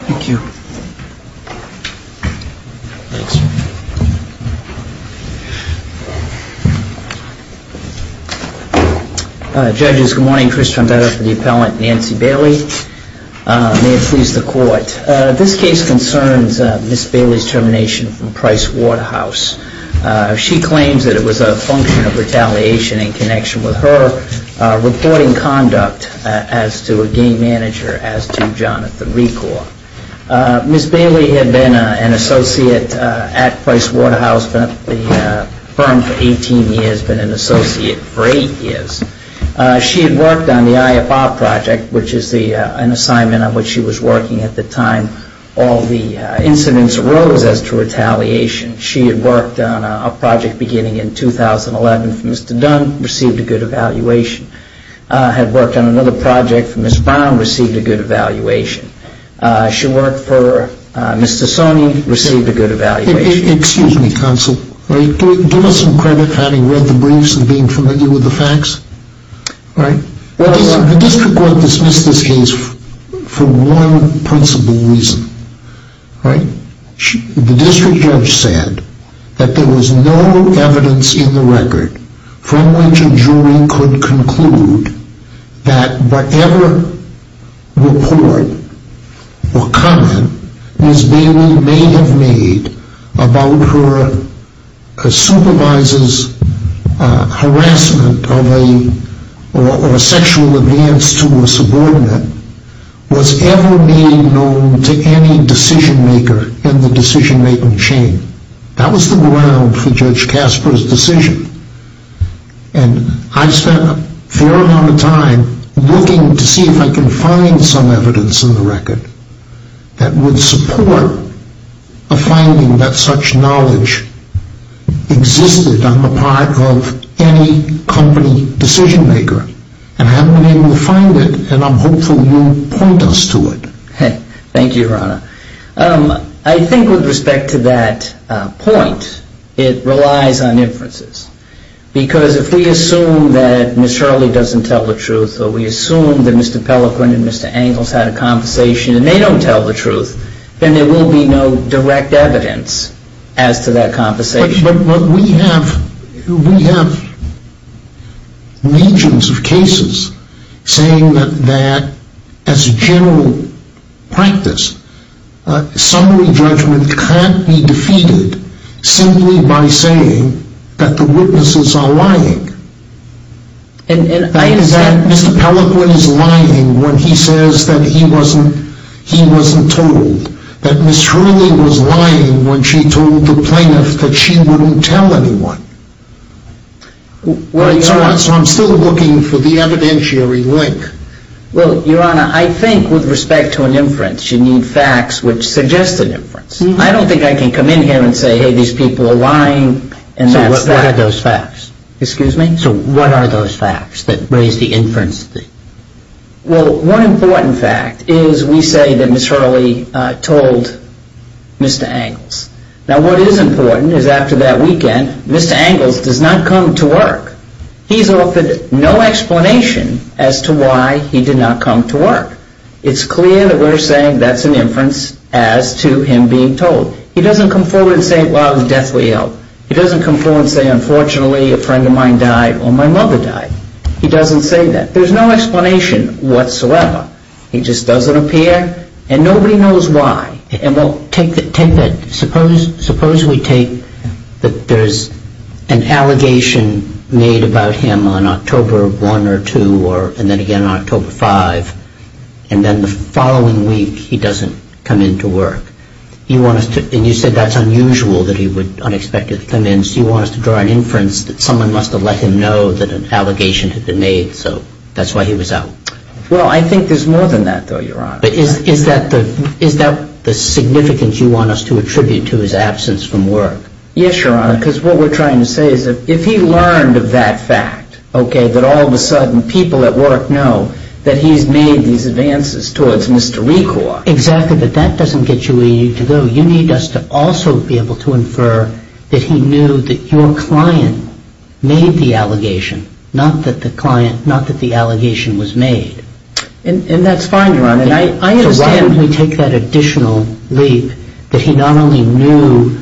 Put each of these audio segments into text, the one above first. Thank you. Judges, good morning. Chris Trombetta for the appellant, Nancy Bailey. May it please the court. This case concerns Ms. Bailey's termination from Pricewaterhouse. She claims that it was a function of retaliation in connection with her reporting conduct as to a game manager, as to Jonathan Recore. Ms. Bailey had been an associate at Pricewaterhouse, been at the firm for 18 years, been an associate for 8 years. She had worked on the IFR project, which is an assignment on which she was working at the time all the incidents arose as to retaliation. She had worked on a project beginning in 2011 for Mr. Dunn, received a good evaluation. Had worked on another project for Ms. Brown, received a good evaluation. She worked for Mr. Sonny, received a good evaluation. Excuse me, counsel. Give us some credit for having read the briefs and being familiar with the facts. The district court dismissed this case for one principal reason. The district judge said that there was no evidence in the record from which a jury could conclude that whatever report or comment Ms. Bailey may have made about her supervisor's harassment or sexual alliance to a subordinate was ever made known to any decision maker in the decision making chain. That was the ground for Judge Casper's decision. And I spent a fair amount of time looking to see if I could find some evidence in the record that would support a finding that such knowledge existed on the part of any company decision maker. And I haven't been able to find it. And I'm hopeful you'll point us to it. Thank you, Your Honor. I think with respect to that point, it relies on inferences. Because if we assume that Ms. Shirley doesn't tell the truth or we assume that Mr. Pelliquin and Mr. Angles had a conversation and they don't tell the truth, then there will be no direct evidence as to that conversation. But we have legions of cases saying that as a general practice, summary judgment can't be defeated simply by saying that the witnesses are lying. Is that Mr. Pelliquin is lying when he says that he wasn't told, that Ms. Shirley was lying when she told the plaintiff that she wouldn't tell anyone? So I'm still looking for the evidentiary link. Well, Your Honor, I think with respect to an inference, you need facts which suggest an inference. I don't think I can come in here and say, hey, these people are lying. So what are those facts that raise the inference? Well, one important fact is we say that Ms. Shirley told Mr. Angles. Now, what is important is after that weekend, Mr. Angles does not come to work. He's offered no explanation as to why he did not come to work. It's clear that we're saying that's an inference as to him being told. He doesn't come forward and say, well, I was deathly ill. He doesn't come forward and say, unfortunately, a friend of mine died or my mother died. He doesn't say that. There's no explanation whatsoever. He just doesn't appear and nobody knows why. Well, take that. Suppose we take that there's an allegation made about him on October 1 or 2 and then again on October 5, and then the following week he doesn't come into work. And you said that's unusual that he would unexpectedly come in. So you want us to draw an inference that someone must have let him know that an allegation had been made, so that's why he was out. Well, I think there's more than that, though, Your Honor. But is that the significance you want us to attribute to his absence from work? Yes, Your Honor, because what we're trying to say is that if he learned of that fact, okay, that all of a sudden people at work know that he's made these advances towards Mr. Recor. Exactly, but that doesn't get you where you need to go. You need us to also be able to infer that he knew that your client made the allegation, not that the client, not that the allegation was made. And that's fine, Your Honor, and I understand when we take that additional leap that he not only knew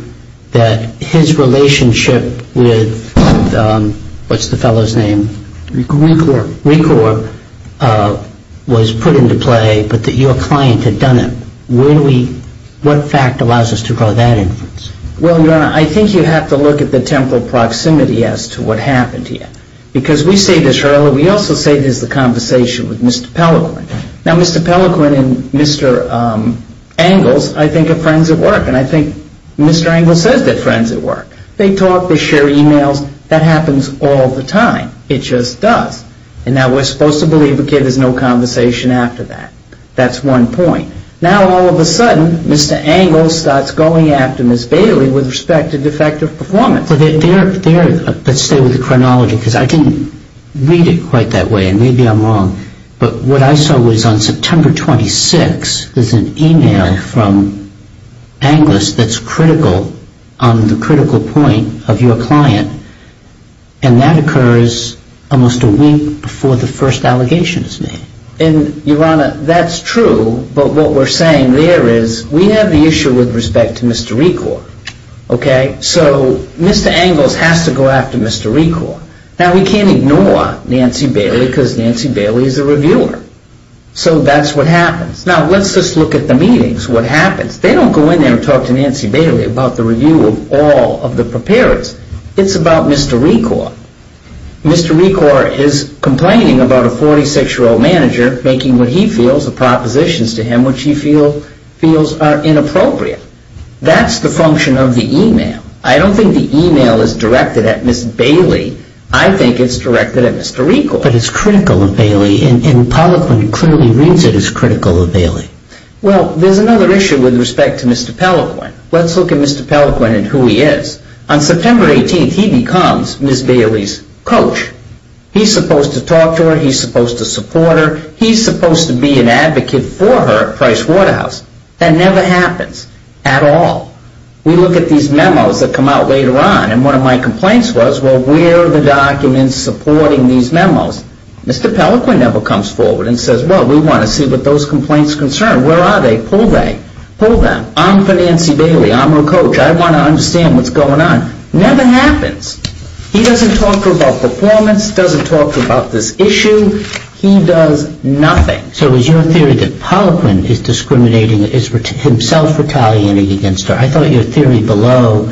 that his relationship with, what's the fellow's name? Recor. Recor was put into play, but that your client had done it. What fact allows us to draw that inference? Well, Your Honor, I think you have to look at the temporal proximity as to what happened here. Because we say this earlier, we also say this is the conversation with Mr. Pellequin. Now, Mr. Pellequin and Mr. Angles, I think, are friends at work, and I think Mr. Angles says they're friends at work. They talk, they share e-mails, that happens all the time. It just does. And now we're supposed to believe again there's no conversation after that. That's one point. Now all of a sudden Mr. Angles starts going after Ms. Bailey with respect to defective performance. Let's stay with the chronology because I didn't read it quite that way, and maybe I'm wrong. But what I saw was on September 26 there's an e-mail from Angles that's critical on the critical point of your client, and that occurs almost a week before the first allegation is made. And, Your Honor, that's true, but what we're saying there is we have the issue with respect to Mr. Recor. Okay? So Mr. Angles has to go after Mr. Recor. Now we can't ignore Nancy Bailey because Nancy Bailey is a reviewer. So that's what happens. Now let's just look at the meetings, what happens. They don't go in there and talk to Nancy Bailey about the review of all of the preparers. It's about Mr. Recor. Mr. Recor is complaining about a 46-year-old manager making what he feels are propositions to him which he feels are inappropriate. That's the function of the e-mail. I don't think the e-mail is directed at Ms. Bailey. I think it's directed at Mr. Recor. But it's critical of Bailey, and Pellequin clearly reads it as critical of Bailey. Well, there's another issue with respect to Mr. Pellequin. Let's look at Mr. Pellequin and who he is. On September 18th he becomes Ms. Bailey's coach. He's supposed to talk to her. He's supposed to support her. He's supposed to be an advocate for her at Price Waterhouse. That never happens at all. We look at these memos that come out later on, and one of my complaints was, well, where are the documents supporting these memos? Mr. Pellequin never comes forward and says, well, we want to see what those complaints concern. Where are they? Pull them. I'm for Nancy Bailey. I'm her coach. I want to understand what's going on. Never happens. He doesn't talk to her about performance. He doesn't talk to her about this issue. He does nothing. So it was your theory that Pellequin is discriminating, is himself retaliating against her. I thought your theory below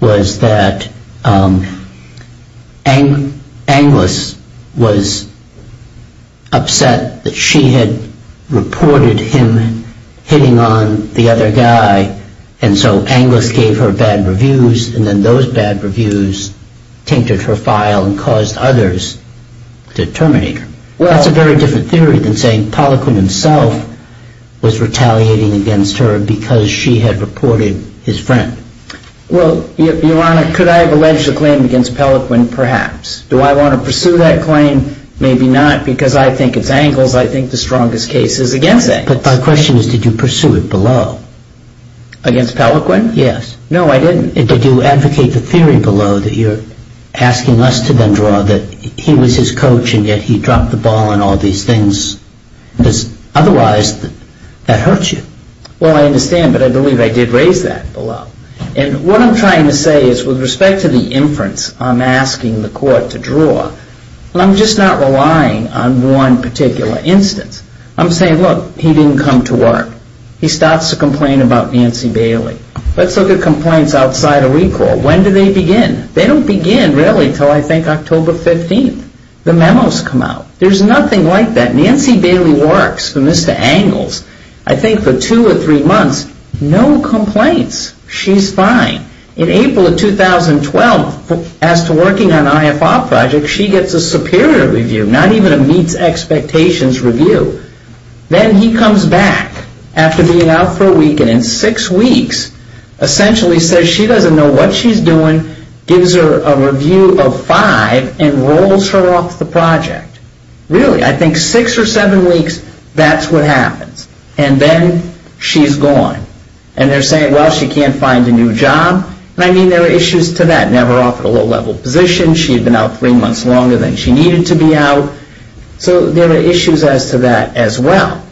was that Anglis was upset that she had reported him hitting on the other guy, and so Anglis gave her bad reviews, and then those bad reviews tainted her file and caused others to terminate her. That's a very different theory than saying Pellequin himself was retaliating against her because she had reported his friend. Well, Your Honor, could I have alleged a claim against Pellequin? Perhaps. Do I want to pursue that claim? Maybe not, because I think it's Anglis. I think the strongest case is against Anglis. But my question is, did you pursue it below? Against Pellequin? Yes. No, I didn't. Did you advocate the theory below that you're asking us to then draw that he was his coach and yet he dropped the ball and all these things? Because otherwise, that hurts you. Well, I understand, but I believe I did raise that below. And what I'm trying to say is with respect to the inference I'm asking the court to draw, I'm just not relying on one particular instance. I'm saying, look, he didn't come to work. He starts to complain about Nancy Bailey. Let's look at complaints outside of recall. When do they begin? They don't begin really until I think October 15th. The memos come out. There's nothing like that. Nancy Bailey works for Mr. Anglis, I think, for two or three months. No complaints. She's fine. In April of 2012, as to working on an IFR project, she gets a superior review, not even a meets expectations review. Then he comes back after being out for a week and in six weeks essentially says she doesn't know what she's doing, gives her a review of five, and rolls her off the project. Really, I think six or seven weeks, that's what happens. And then she's gone. And they're saying, well, she can't find a new job. And I mean, there are issues to that. Never offered a low-level position. She had been out three months longer than she needed to be out. So there are issues as to that as well.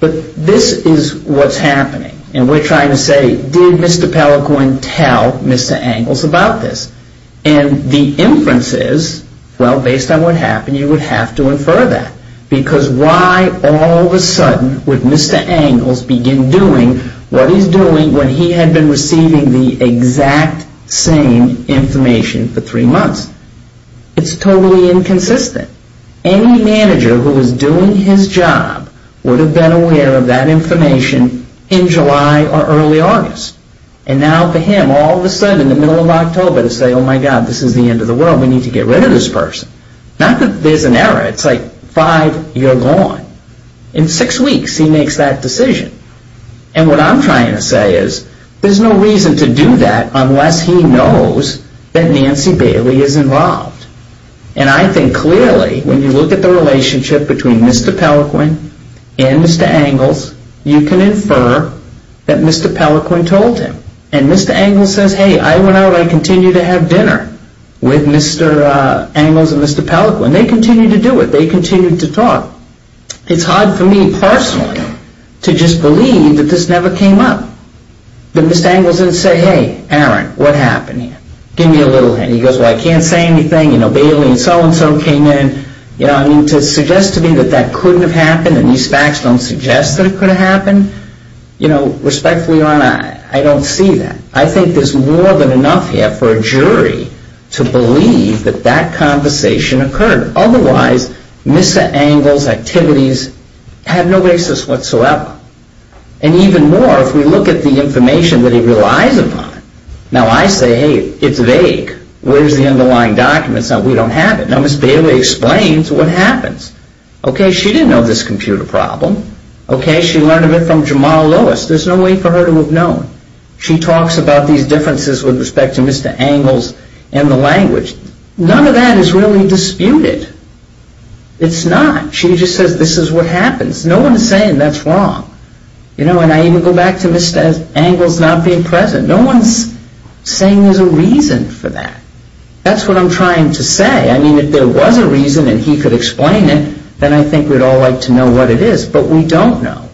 But this is what's happening. And we're trying to say, did Mr. Pellicorn tell Mr. Anglis about this? And the inference is, well, based on what happened, you would have to infer that. Because why all of a sudden would Mr. Anglis begin doing what he's doing when he had been receiving the exact same information for three months? It's totally inconsistent. Any manager who is doing his job would have been aware of that information in July or early August. And now for him, all of a sudden in the middle of October to say, oh, my God, this is the end of the world. We need to get rid of this person. Not that there's an error. It's like five, you're gone. In six weeks, he makes that decision. And what I'm trying to say is, there's no reason to do that unless he knows that Nancy Bailey is involved. And I think clearly when you look at the relationship between Mr. Pellicorn and Mr. Anglis, you can infer that Mr. Pellicorn told him. And Mr. Anglis says, hey, I went out. I continue to have dinner with Mr. Anglis and Mr. Pellicorn. They continue to do it. They continue to talk. It's hard for me personally to just believe that this never came up. That Mr. Anglis didn't say, hey, Aaron, what happened here? Give me a little hint. He goes, well, I can't say anything. You know, Bailey and so-and-so came in. You know, I mean, to suggest to me that that couldn't have happened and these facts don't suggest that it could have happened, you know, respectfully, Your Honor, I don't see that. I think there's more than enough here for a jury to believe that that conversation occurred. Otherwise, Mr. Anglis' activities have no basis whatsoever. And even more, if we look at the information that he relies upon. Now, I say, hey, it's vague. Where's the underlying documents? We don't have it. Now, Ms. Bailey explains what happens. Okay, she didn't know this computer problem. Okay, she learned of it from Jamal Lewis. There's no way for her to have known. She talks about these differences with respect to Mr. Anglis and the language. None of that is really disputed. It's not. She just says this is what happens. No one's saying that's wrong. You know, and I even go back to Mr. Anglis not being present. No one's saying there's a reason for that. That's what I'm trying to say. I mean, if there was a reason and he could explain it, then I think we'd all like to know what it is. But we don't know.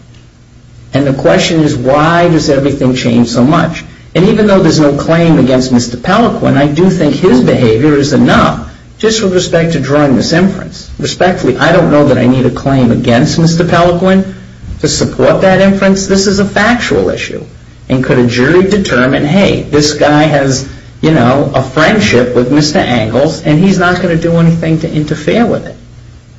And the question is, why does everything change so much? And even though there's no claim against Mr. Pelequin, I do think his behavior is enough just with respect to drawing this inference. Respectfully, I don't know that I need a claim against Mr. Pelequin to support that inference. This is a factual issue. And could a jury determine, hey, this guy has, you know, a friendship with Mr. Anglis, and he's not going to do anything to interfere with it?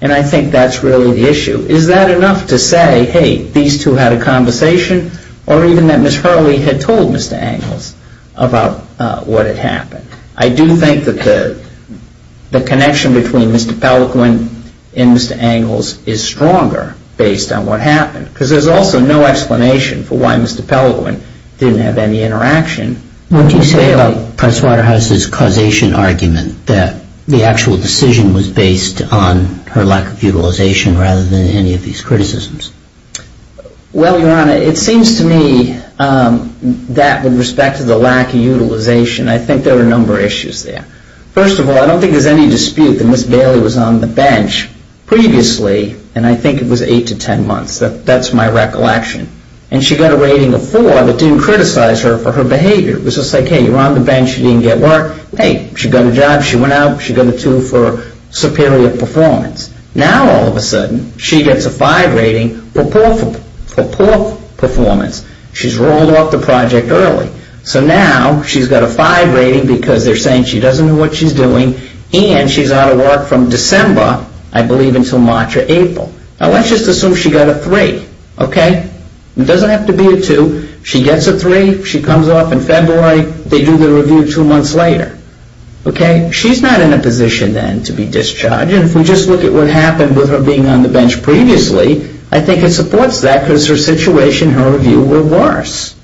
And I think that's really the issue. Is that enough to say, hey, these two had a conversation? Or even that Ms. Hurley had told Mr. Anglis about what had happened? I do think that the connection between Mr. Pelequin and Mr. Anglis is stronger based on what happened. Because there's also no explanation for why Mr. Pelequin didn't have any interaction. What do you say about Presswaterhouse's causation argument, that the actual decision was based on her lack of utilization rather than any of these criticisms? Well, Your Honor, it seems to me that with respect to the lack of utilization, I think there are a number of issues there. First of all, I don't think there's any dispute that Ms. Bailey was on the bench previously, and I think it was eight to ten months. That's my recollection. And she got a rating of four that didn't criticize her for her behavior. It was just like, hey, you're on the bench, you didn't get work. Hey, she got a job, she went out, she got a two for superior performance. Now all of a sudden, she gets a five rating for poor performance. She's rolled off the project early. So now she's got a five rating because they're saying she doesn't know what she's doing, and she's out of work from December, I believe, until March or April. Now let's just assume she got a three, okay? It doesn't have to be a two. She gets a three, she comes off in February, they do the review two months later, okay? She's not in a position then to be discharged, and if we just look at what happened with her being on the bench previously, I think it supports that because her situation, her review were worse.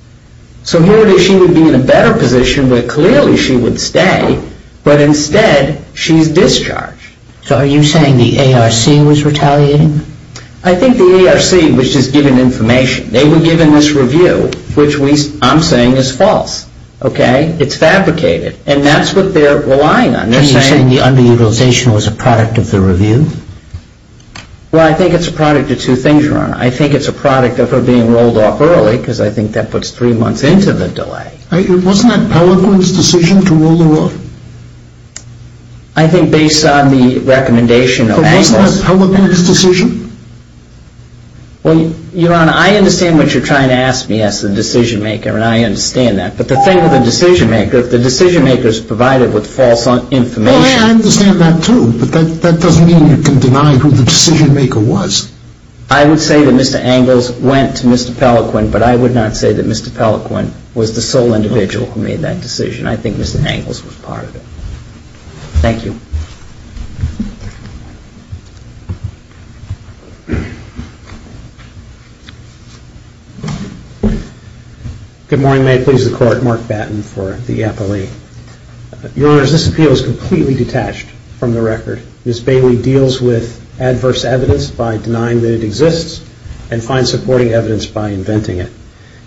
So here it is, she would be in a better position where clearly she would stay, but instead she's discharged. So are you saying the ARC was retaliating? I think the ARC was just given information. They were given this review, which I'm saying is false, okay? It's fabricated. And that's what they're relying on. Are you saying the underutilization was a product of the review? Well, I think it's a product of two things, Your Honor. I think it's a product of her being rolled off early because I think that puts three months into the delay. Wasn't that Pelegrin's decision to roll her off? I think based on the recommendation of Angles. Wasn't that Pelegrin's decision? Well, Your Honor, I understand what you're trying to ask me as the decision-maker, and I understand that. But the thing with a decision-maker, if the decision-maker is provided with false information. Well, I understand that too, but that doesn't mean you can deny who the decision-maker was. I would say that Mr. Angles went to Mr. Pelegrin, but I would not say that Mr. Pelegrin was the sole individual who made that decision. I think Mr. Angles was part of it. Thank you. Good morning. May it please the Court. Mark Batten for the appellee. Your Honors, this appeal is completely detached from the record. Ms. Bailey deals with adverse evidence by denying that it exists and finds supporting evidence by inventing it.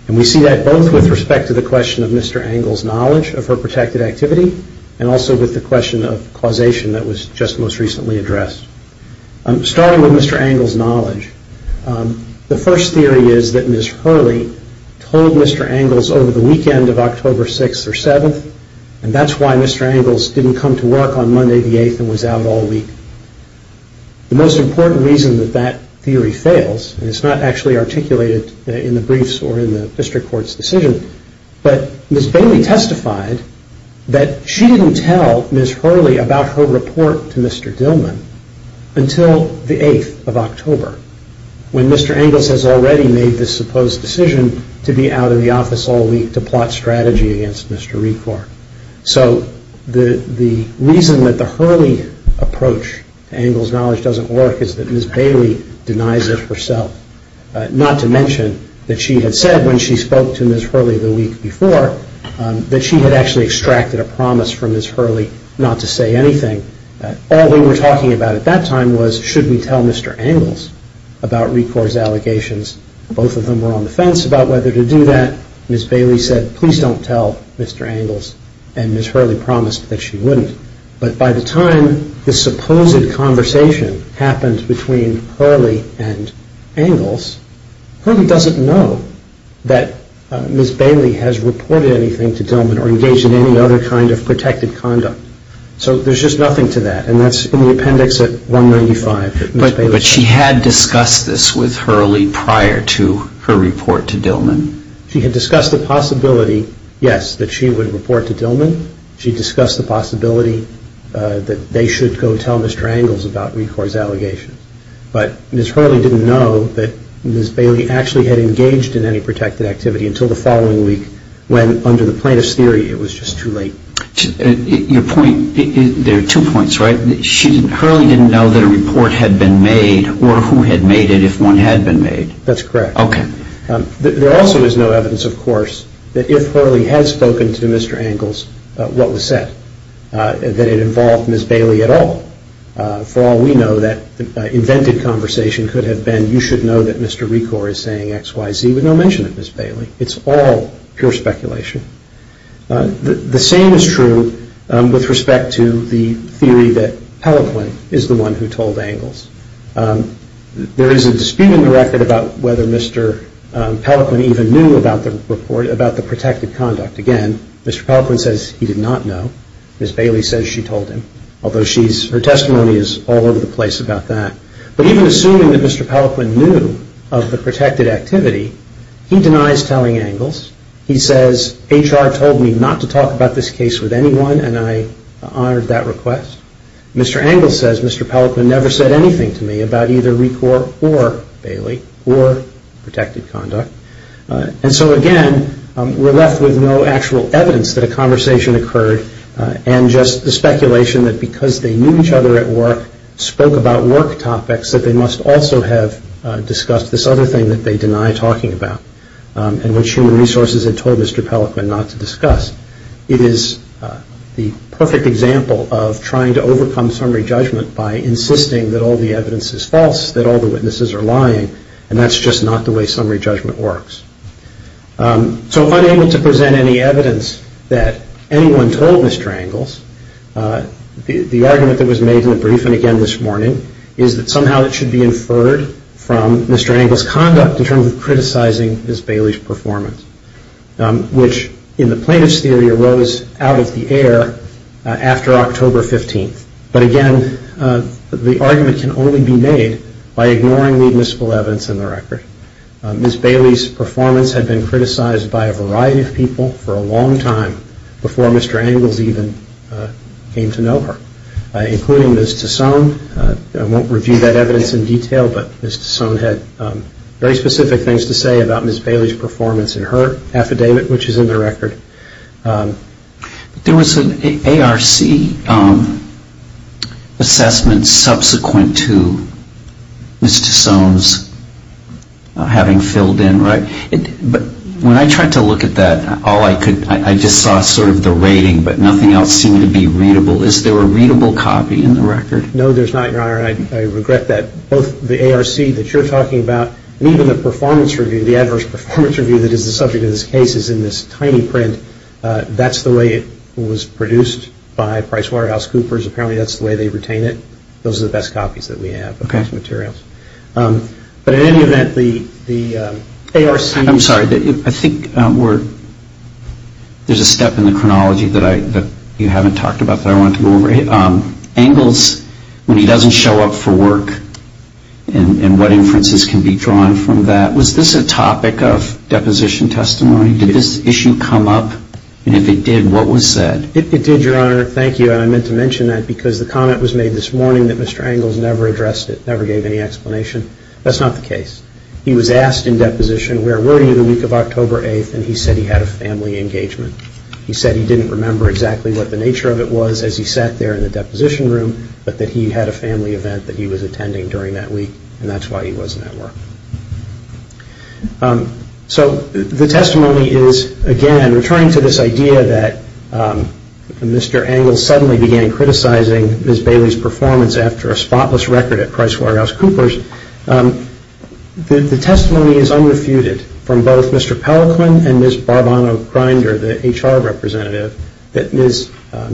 And we see that both with respect to the question of Mr. Angles' knowledge of her protected activity and also with the question of causation that was just most recently addressed. Starting with Mr. Angles' knowledge, the first theory is that Ms. Hurley told Mr. Angles over the weekend of October 6th or 7th, and that's why Mr. Angles didn't come to work on Monday the 8th and was out all week. The most important reason that that theory fails, and it's not actually articulated in the briefs or in the district court's decision, but Ms. Bailey testified that she didn't tell Ms. Hurley about her report to Mr. Dillman until the 8th of October, when Mr. Angles has already made the supposed decision to be out of the office all week to plot strategy against Mr. Recor. So the reason that the Hurley approach to Angles' knowledge doesn't work is that Ms. Bailey denies it herself, not to mention that she had said when she spoke to Ms. Hurley the week before that she had actually extracted a promise from Ms. Hurley not to say anything. All they were talking about at that time was, should we tell Mr. Angles about Recor's allegations? Both of them were on the fence about whether to do that. Ms. Bailey said, please don't tell Mr. Angles, and Ms. Hurley promised that she wouldn't. But by the time the supposed conversation happened between Hurley and Angles, Hurley doesn't know that Ms. Bailey has reported anything to Dillman or engaged in any other kind of protected conduct. So there's just nothing to that, and that's in the appendix at 195. But she had discussed this with Hurley prior to her report to Dillman? She had discussed the possibility, yes, that she would report to Dillman. She had discussed the possibility that they should go tell Mr. Angles about Recor's allegations. But Ms. Hurley didn't know that Ms. Bailey actually had engaged in any protected activity until the following week when, under the plaintiff's theory, it was just too late. Your point, there are two points, right? Hurley didn't know that a report had been made or who had made it if one had been made? That's correct. Okay. There also is no evidence, of course, that if Hurley had spoken to Mr. Angles, what was said, that it involved Ms. Bailey at all. For all we know, that invented conversation could have been, you should know that Mr. Recor is saying X, Y, Z, with no mention of Ms. Bailey. It's all pure speculation. The same is true with respect to the theory that Peloponne is the one who told Angles. There is a dispute in the record about whether Mr. Peloponne even knew about the report, about the protected conduct. Again, Mr. Peloponne says he did not know. Ms. Bailey says she told him, although her testimony is all over the place about that. But even assuming that Mr. Peloponne knew of the protected activity, he denies telling Angles. He says, HR told me not to talk about this case with anyone and I honored that request. Mr. Angles says Mr. Peloponne never said anything to me about either Recor or Bailey or protected conduct. And so again, we're left with no actual evidence that a conversation occurred and just the speculation that because they knew each other at work, spoke about work topics that they must also have discussed this other thing that they deny talking about and which human resources had told Mr. Peloponne not to discuss. It is the perfect example of trying to overcome summary judgment by insisting that all the evidence is false, that all the witnesses are lying, and that's just not the way summary judgment works. So unable to present any evidence that anyone told Mr. Angles, the argument that was made in the briefing again this morning is that somehow it should be inferred from Mr. Angles' conduct in terms of criticizing Ms. Bailey's performance, which in the plaintiff's theory arose out of the air after October 15th. But again, the argument can only be made by ignoring the admissible evidence in the record. Ms. Bailey's performance had been criticized by a variety of people for a long time before Mr. Angles even came to know her, including Ms. Tassone. I won't review that evidence in detail, but Ms. Tassone had very specific things to say about Ms. Bailey's performance in her affidavit, which is in the record. There was an ARC assessment subsequent to Ms. Tassone's having filled in, right? But when I tried to look at that, I just saw sort of the rating, but nothing else seemed to be readable. Is there a readable copy in the record? No, there's not, Your Honor. I regret that. Both the ARC that you're talking about and even the performance review, the adverse performance review that is the subject of this case is in this tiny print. That's the way it was produced by PricewaterhouseCoopers. Apparently that's the way they retain it. Those are the best copies that we have of those materials. But in any event, the ARC- I'm sorry. I think there's a step in the chronology that you haven't talked about that I wanted to go over. Angles, when he doesn't show up for work and what inferences can be drawn from that, was this a topic of deposition testimony? Did this issue come up? And if it did, what was said? It did, Your Honor. Thank you. And I meant to mention that because the comment was made this morning that Mr. Angles never addressed it, never gave any explanation. That's not the case. He was asked in deposition, where were you the week of October 8th? And he said he had a family engagement. He said he didn't remember exactly what the nature of it was as he sat there in the deposition room, but that he had a family event that he was attending during that week, and that's why he wasn't at work. So the testimony is, again, returning to this idea that Mr. Angles suddenly began criticizing Ms. Bailey's performance after a spotless record at PricewaterhouseCoopers, the testimony is unrefuted from both Mr. Pelican and Ms. Barbano-Grinder, the HR representative, that Ms.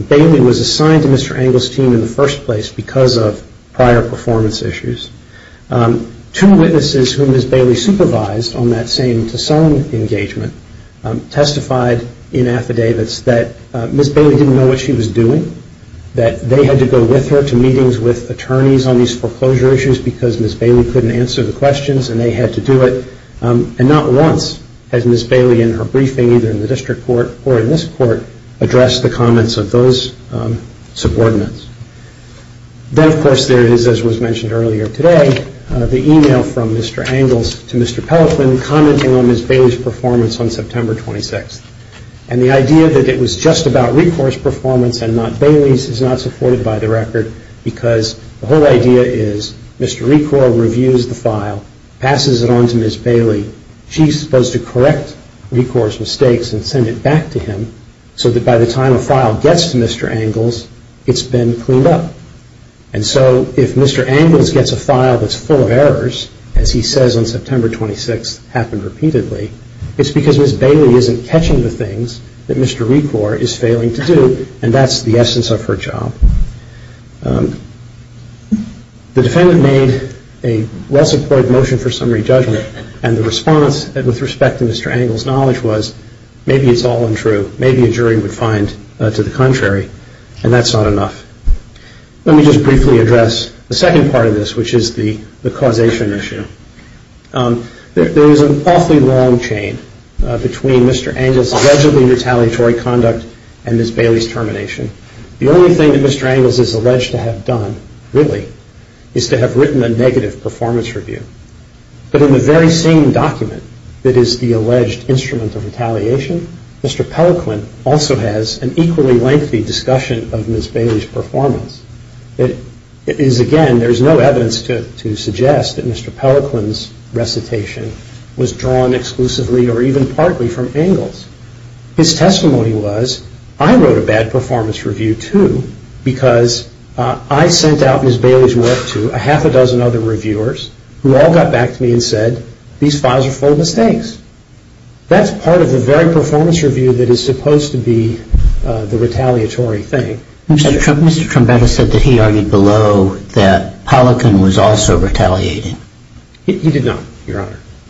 Bailey was assigned to Mr. Angles' team in the first place because of prior performance issues. Two witnesses whom Ms. Bailey supervised on that same Tassone engagement testified in affidavits that Ms. Bailey didn't know what she was doing, that they had to go with her to meetings with attorneys on these foreclosure issues because Ms. Bailey couldn't answer the questions and they had to do it. And not once has Ms. Bailey in her briefing, either in the district court or in this court, addressed the comments of those subordinates. Then, of course, there is, as was mentioned earlier today, the email from Mr. Angles to Mr. Pelican commenting on Ms. Bailey's performance on September 26th. And the idea that it was just about recourse performance and not Bailey's is not supported by the record because the whole idea is Mr. Recore reviews the file, passes it on to Ms. Bailey. She's supposed to correct Recore's mistakes and send it back to him so that by the time a file gets to Mr. Angles, it's been cleaned up. And so if Mr. Angles gets a file that's full of errors, as he says on September 26th, happened repeatedly, it's because Ms. Bailey isn't catching the things that Mr. Recore is failing to do and that's the essence of her job. The defendant made a well-supported motion for summary judgment and the response with respect to Mr. Angles' knowledge was maybe it's all untrue, maybe a jury would find to the contrary, and that's not enough. Let me just briefly address the second part of this, which is the causation issue. There is an awfully long chain between Mr. Angles' allegedly retaliatory conduct and Ms. Bailey's termination. The only thing that Mr. Angles is alleged to have done, really, is to have written a negative performance review. But in the very same document that is the alleged instrument of retaliation, Mr. Pellequin also has an equally lengthy discussion of Ms. Bailey's performance. It is, again, there is no evidence to suggest that Mr. Pellequin's recitation was drawn exclusively or even partly from Angles. His testimony was, I wrote a bad performance review, too, because I sent out Ms. Bailey's work to a half a dozen other reviewers who all got back to me and said, these files are full of mistakes. That's part of the very performance review that is supposed to be the retaliatory thing. Mr. Trombetta said that he argued below that Pellequin was also retaliating. He did not, Your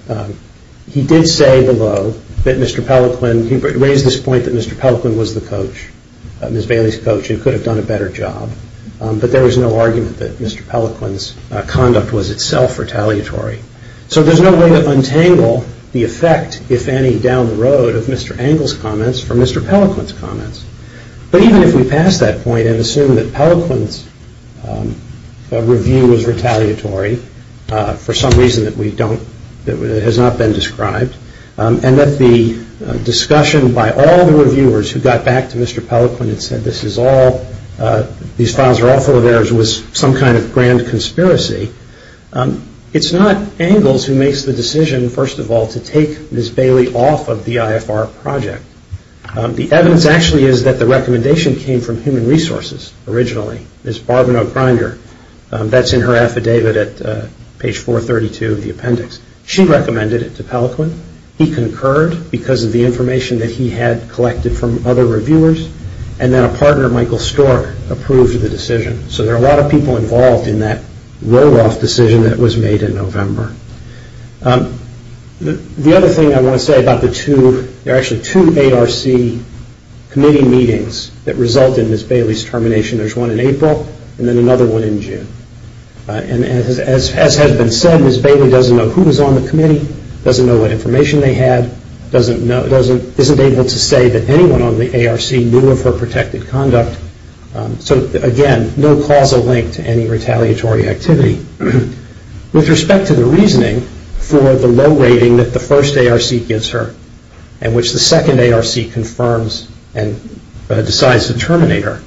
Honor. He did say below that Mr. Pellequin, he raised this point that Mr. Pellequin was the coach, Ms. Bailey's coach, who could have done a better job. But there is no argument that Mr. Pellequin's conduct was itself retaliatory. So there's no way to untangle the effect, if any, down the road of Mr. Angles' comments from Mr. Pellequin's comments. But even if we pass that point and assume that Pellequin's review was retaliatory, for some reason that we don't, that has not been described, and that the discussion by all the reviewers who got back to Mr. Pellequin and said, this is all, these files are all full of errors, was some kind of grand conspiracy, it's not Angles who makes the decision, first of all, to take Ms. Bailey off of the IFR project. The evidence actually is that the recommendation came from Human Resources, originally, Ms. Barbara O'Grinder, that's in her affidavit at page 432 of the appendix. She recommended it to Pellequin. He concurred because of the information that he had collected from other reviewers, and then a partner, Michael Stork, approved the decision. So there are a lot of people involved in that roll-off decision that was made in November. The other thing I want to say about the two, there are actually two ARC committee meetings that result in Ms. Bailey's termination. There's one in April, and then another one in June. And as has been said, Ms. Bailey doesn't know who was on the committee, doesn't know what information they had, isn't able to say that anyone on the ARC knew of her protected conduct. So again, no causal link to any retaliatory activity. With respect to the reasoning for the low rating that the first ARC gives her, and which the second ARC confirms and decides to terminate her,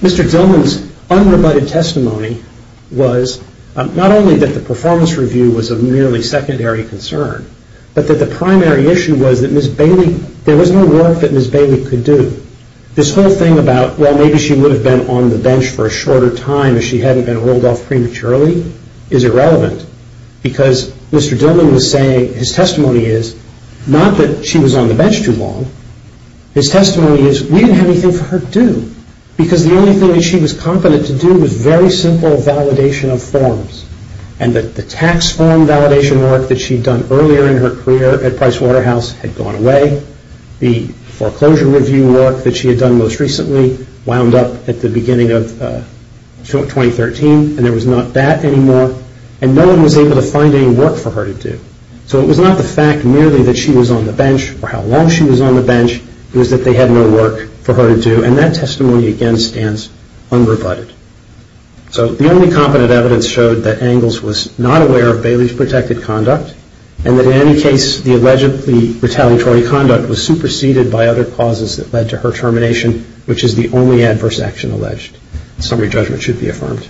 Mr. Dillman's unrebutted testimony was not only that the performance review was of nearly secondary concern, but that the primary issue was that there was no work that Ms. Bailey could do. This whole thing about, well, maybe she would have been on the bench for a shorter time if she hadn't been rolled off prematurely, is irrelevant. Because Mr. Dillman was saying, his testimony is, not that she was on the bench too long, his testimony is, we didn't have anything for her to do. Because the only thing that she was competent to do was very simple validation of forms. And the tax form validation work that she'd done earlier in her career at Price Waterhouse had gone away. The foreclosure review work that she had done most recently wound up at the beginning of 2013, and there was not that anymore. And no one was able to find any work for her to do. So it was not the fact merely that she was on the bench, or how long she was on the bench, it was that they had no work for her to do. And that testimony, again, stands unrebutted. So the only competent evidence showed that Angles was not aware of Bailey's protected conduct, and that in any case the allegedly retaliatory conduct was superseded by other causes that led to her termination, which is the only adverse action alleged. Summary judgment should be affirmed. All right, thank you.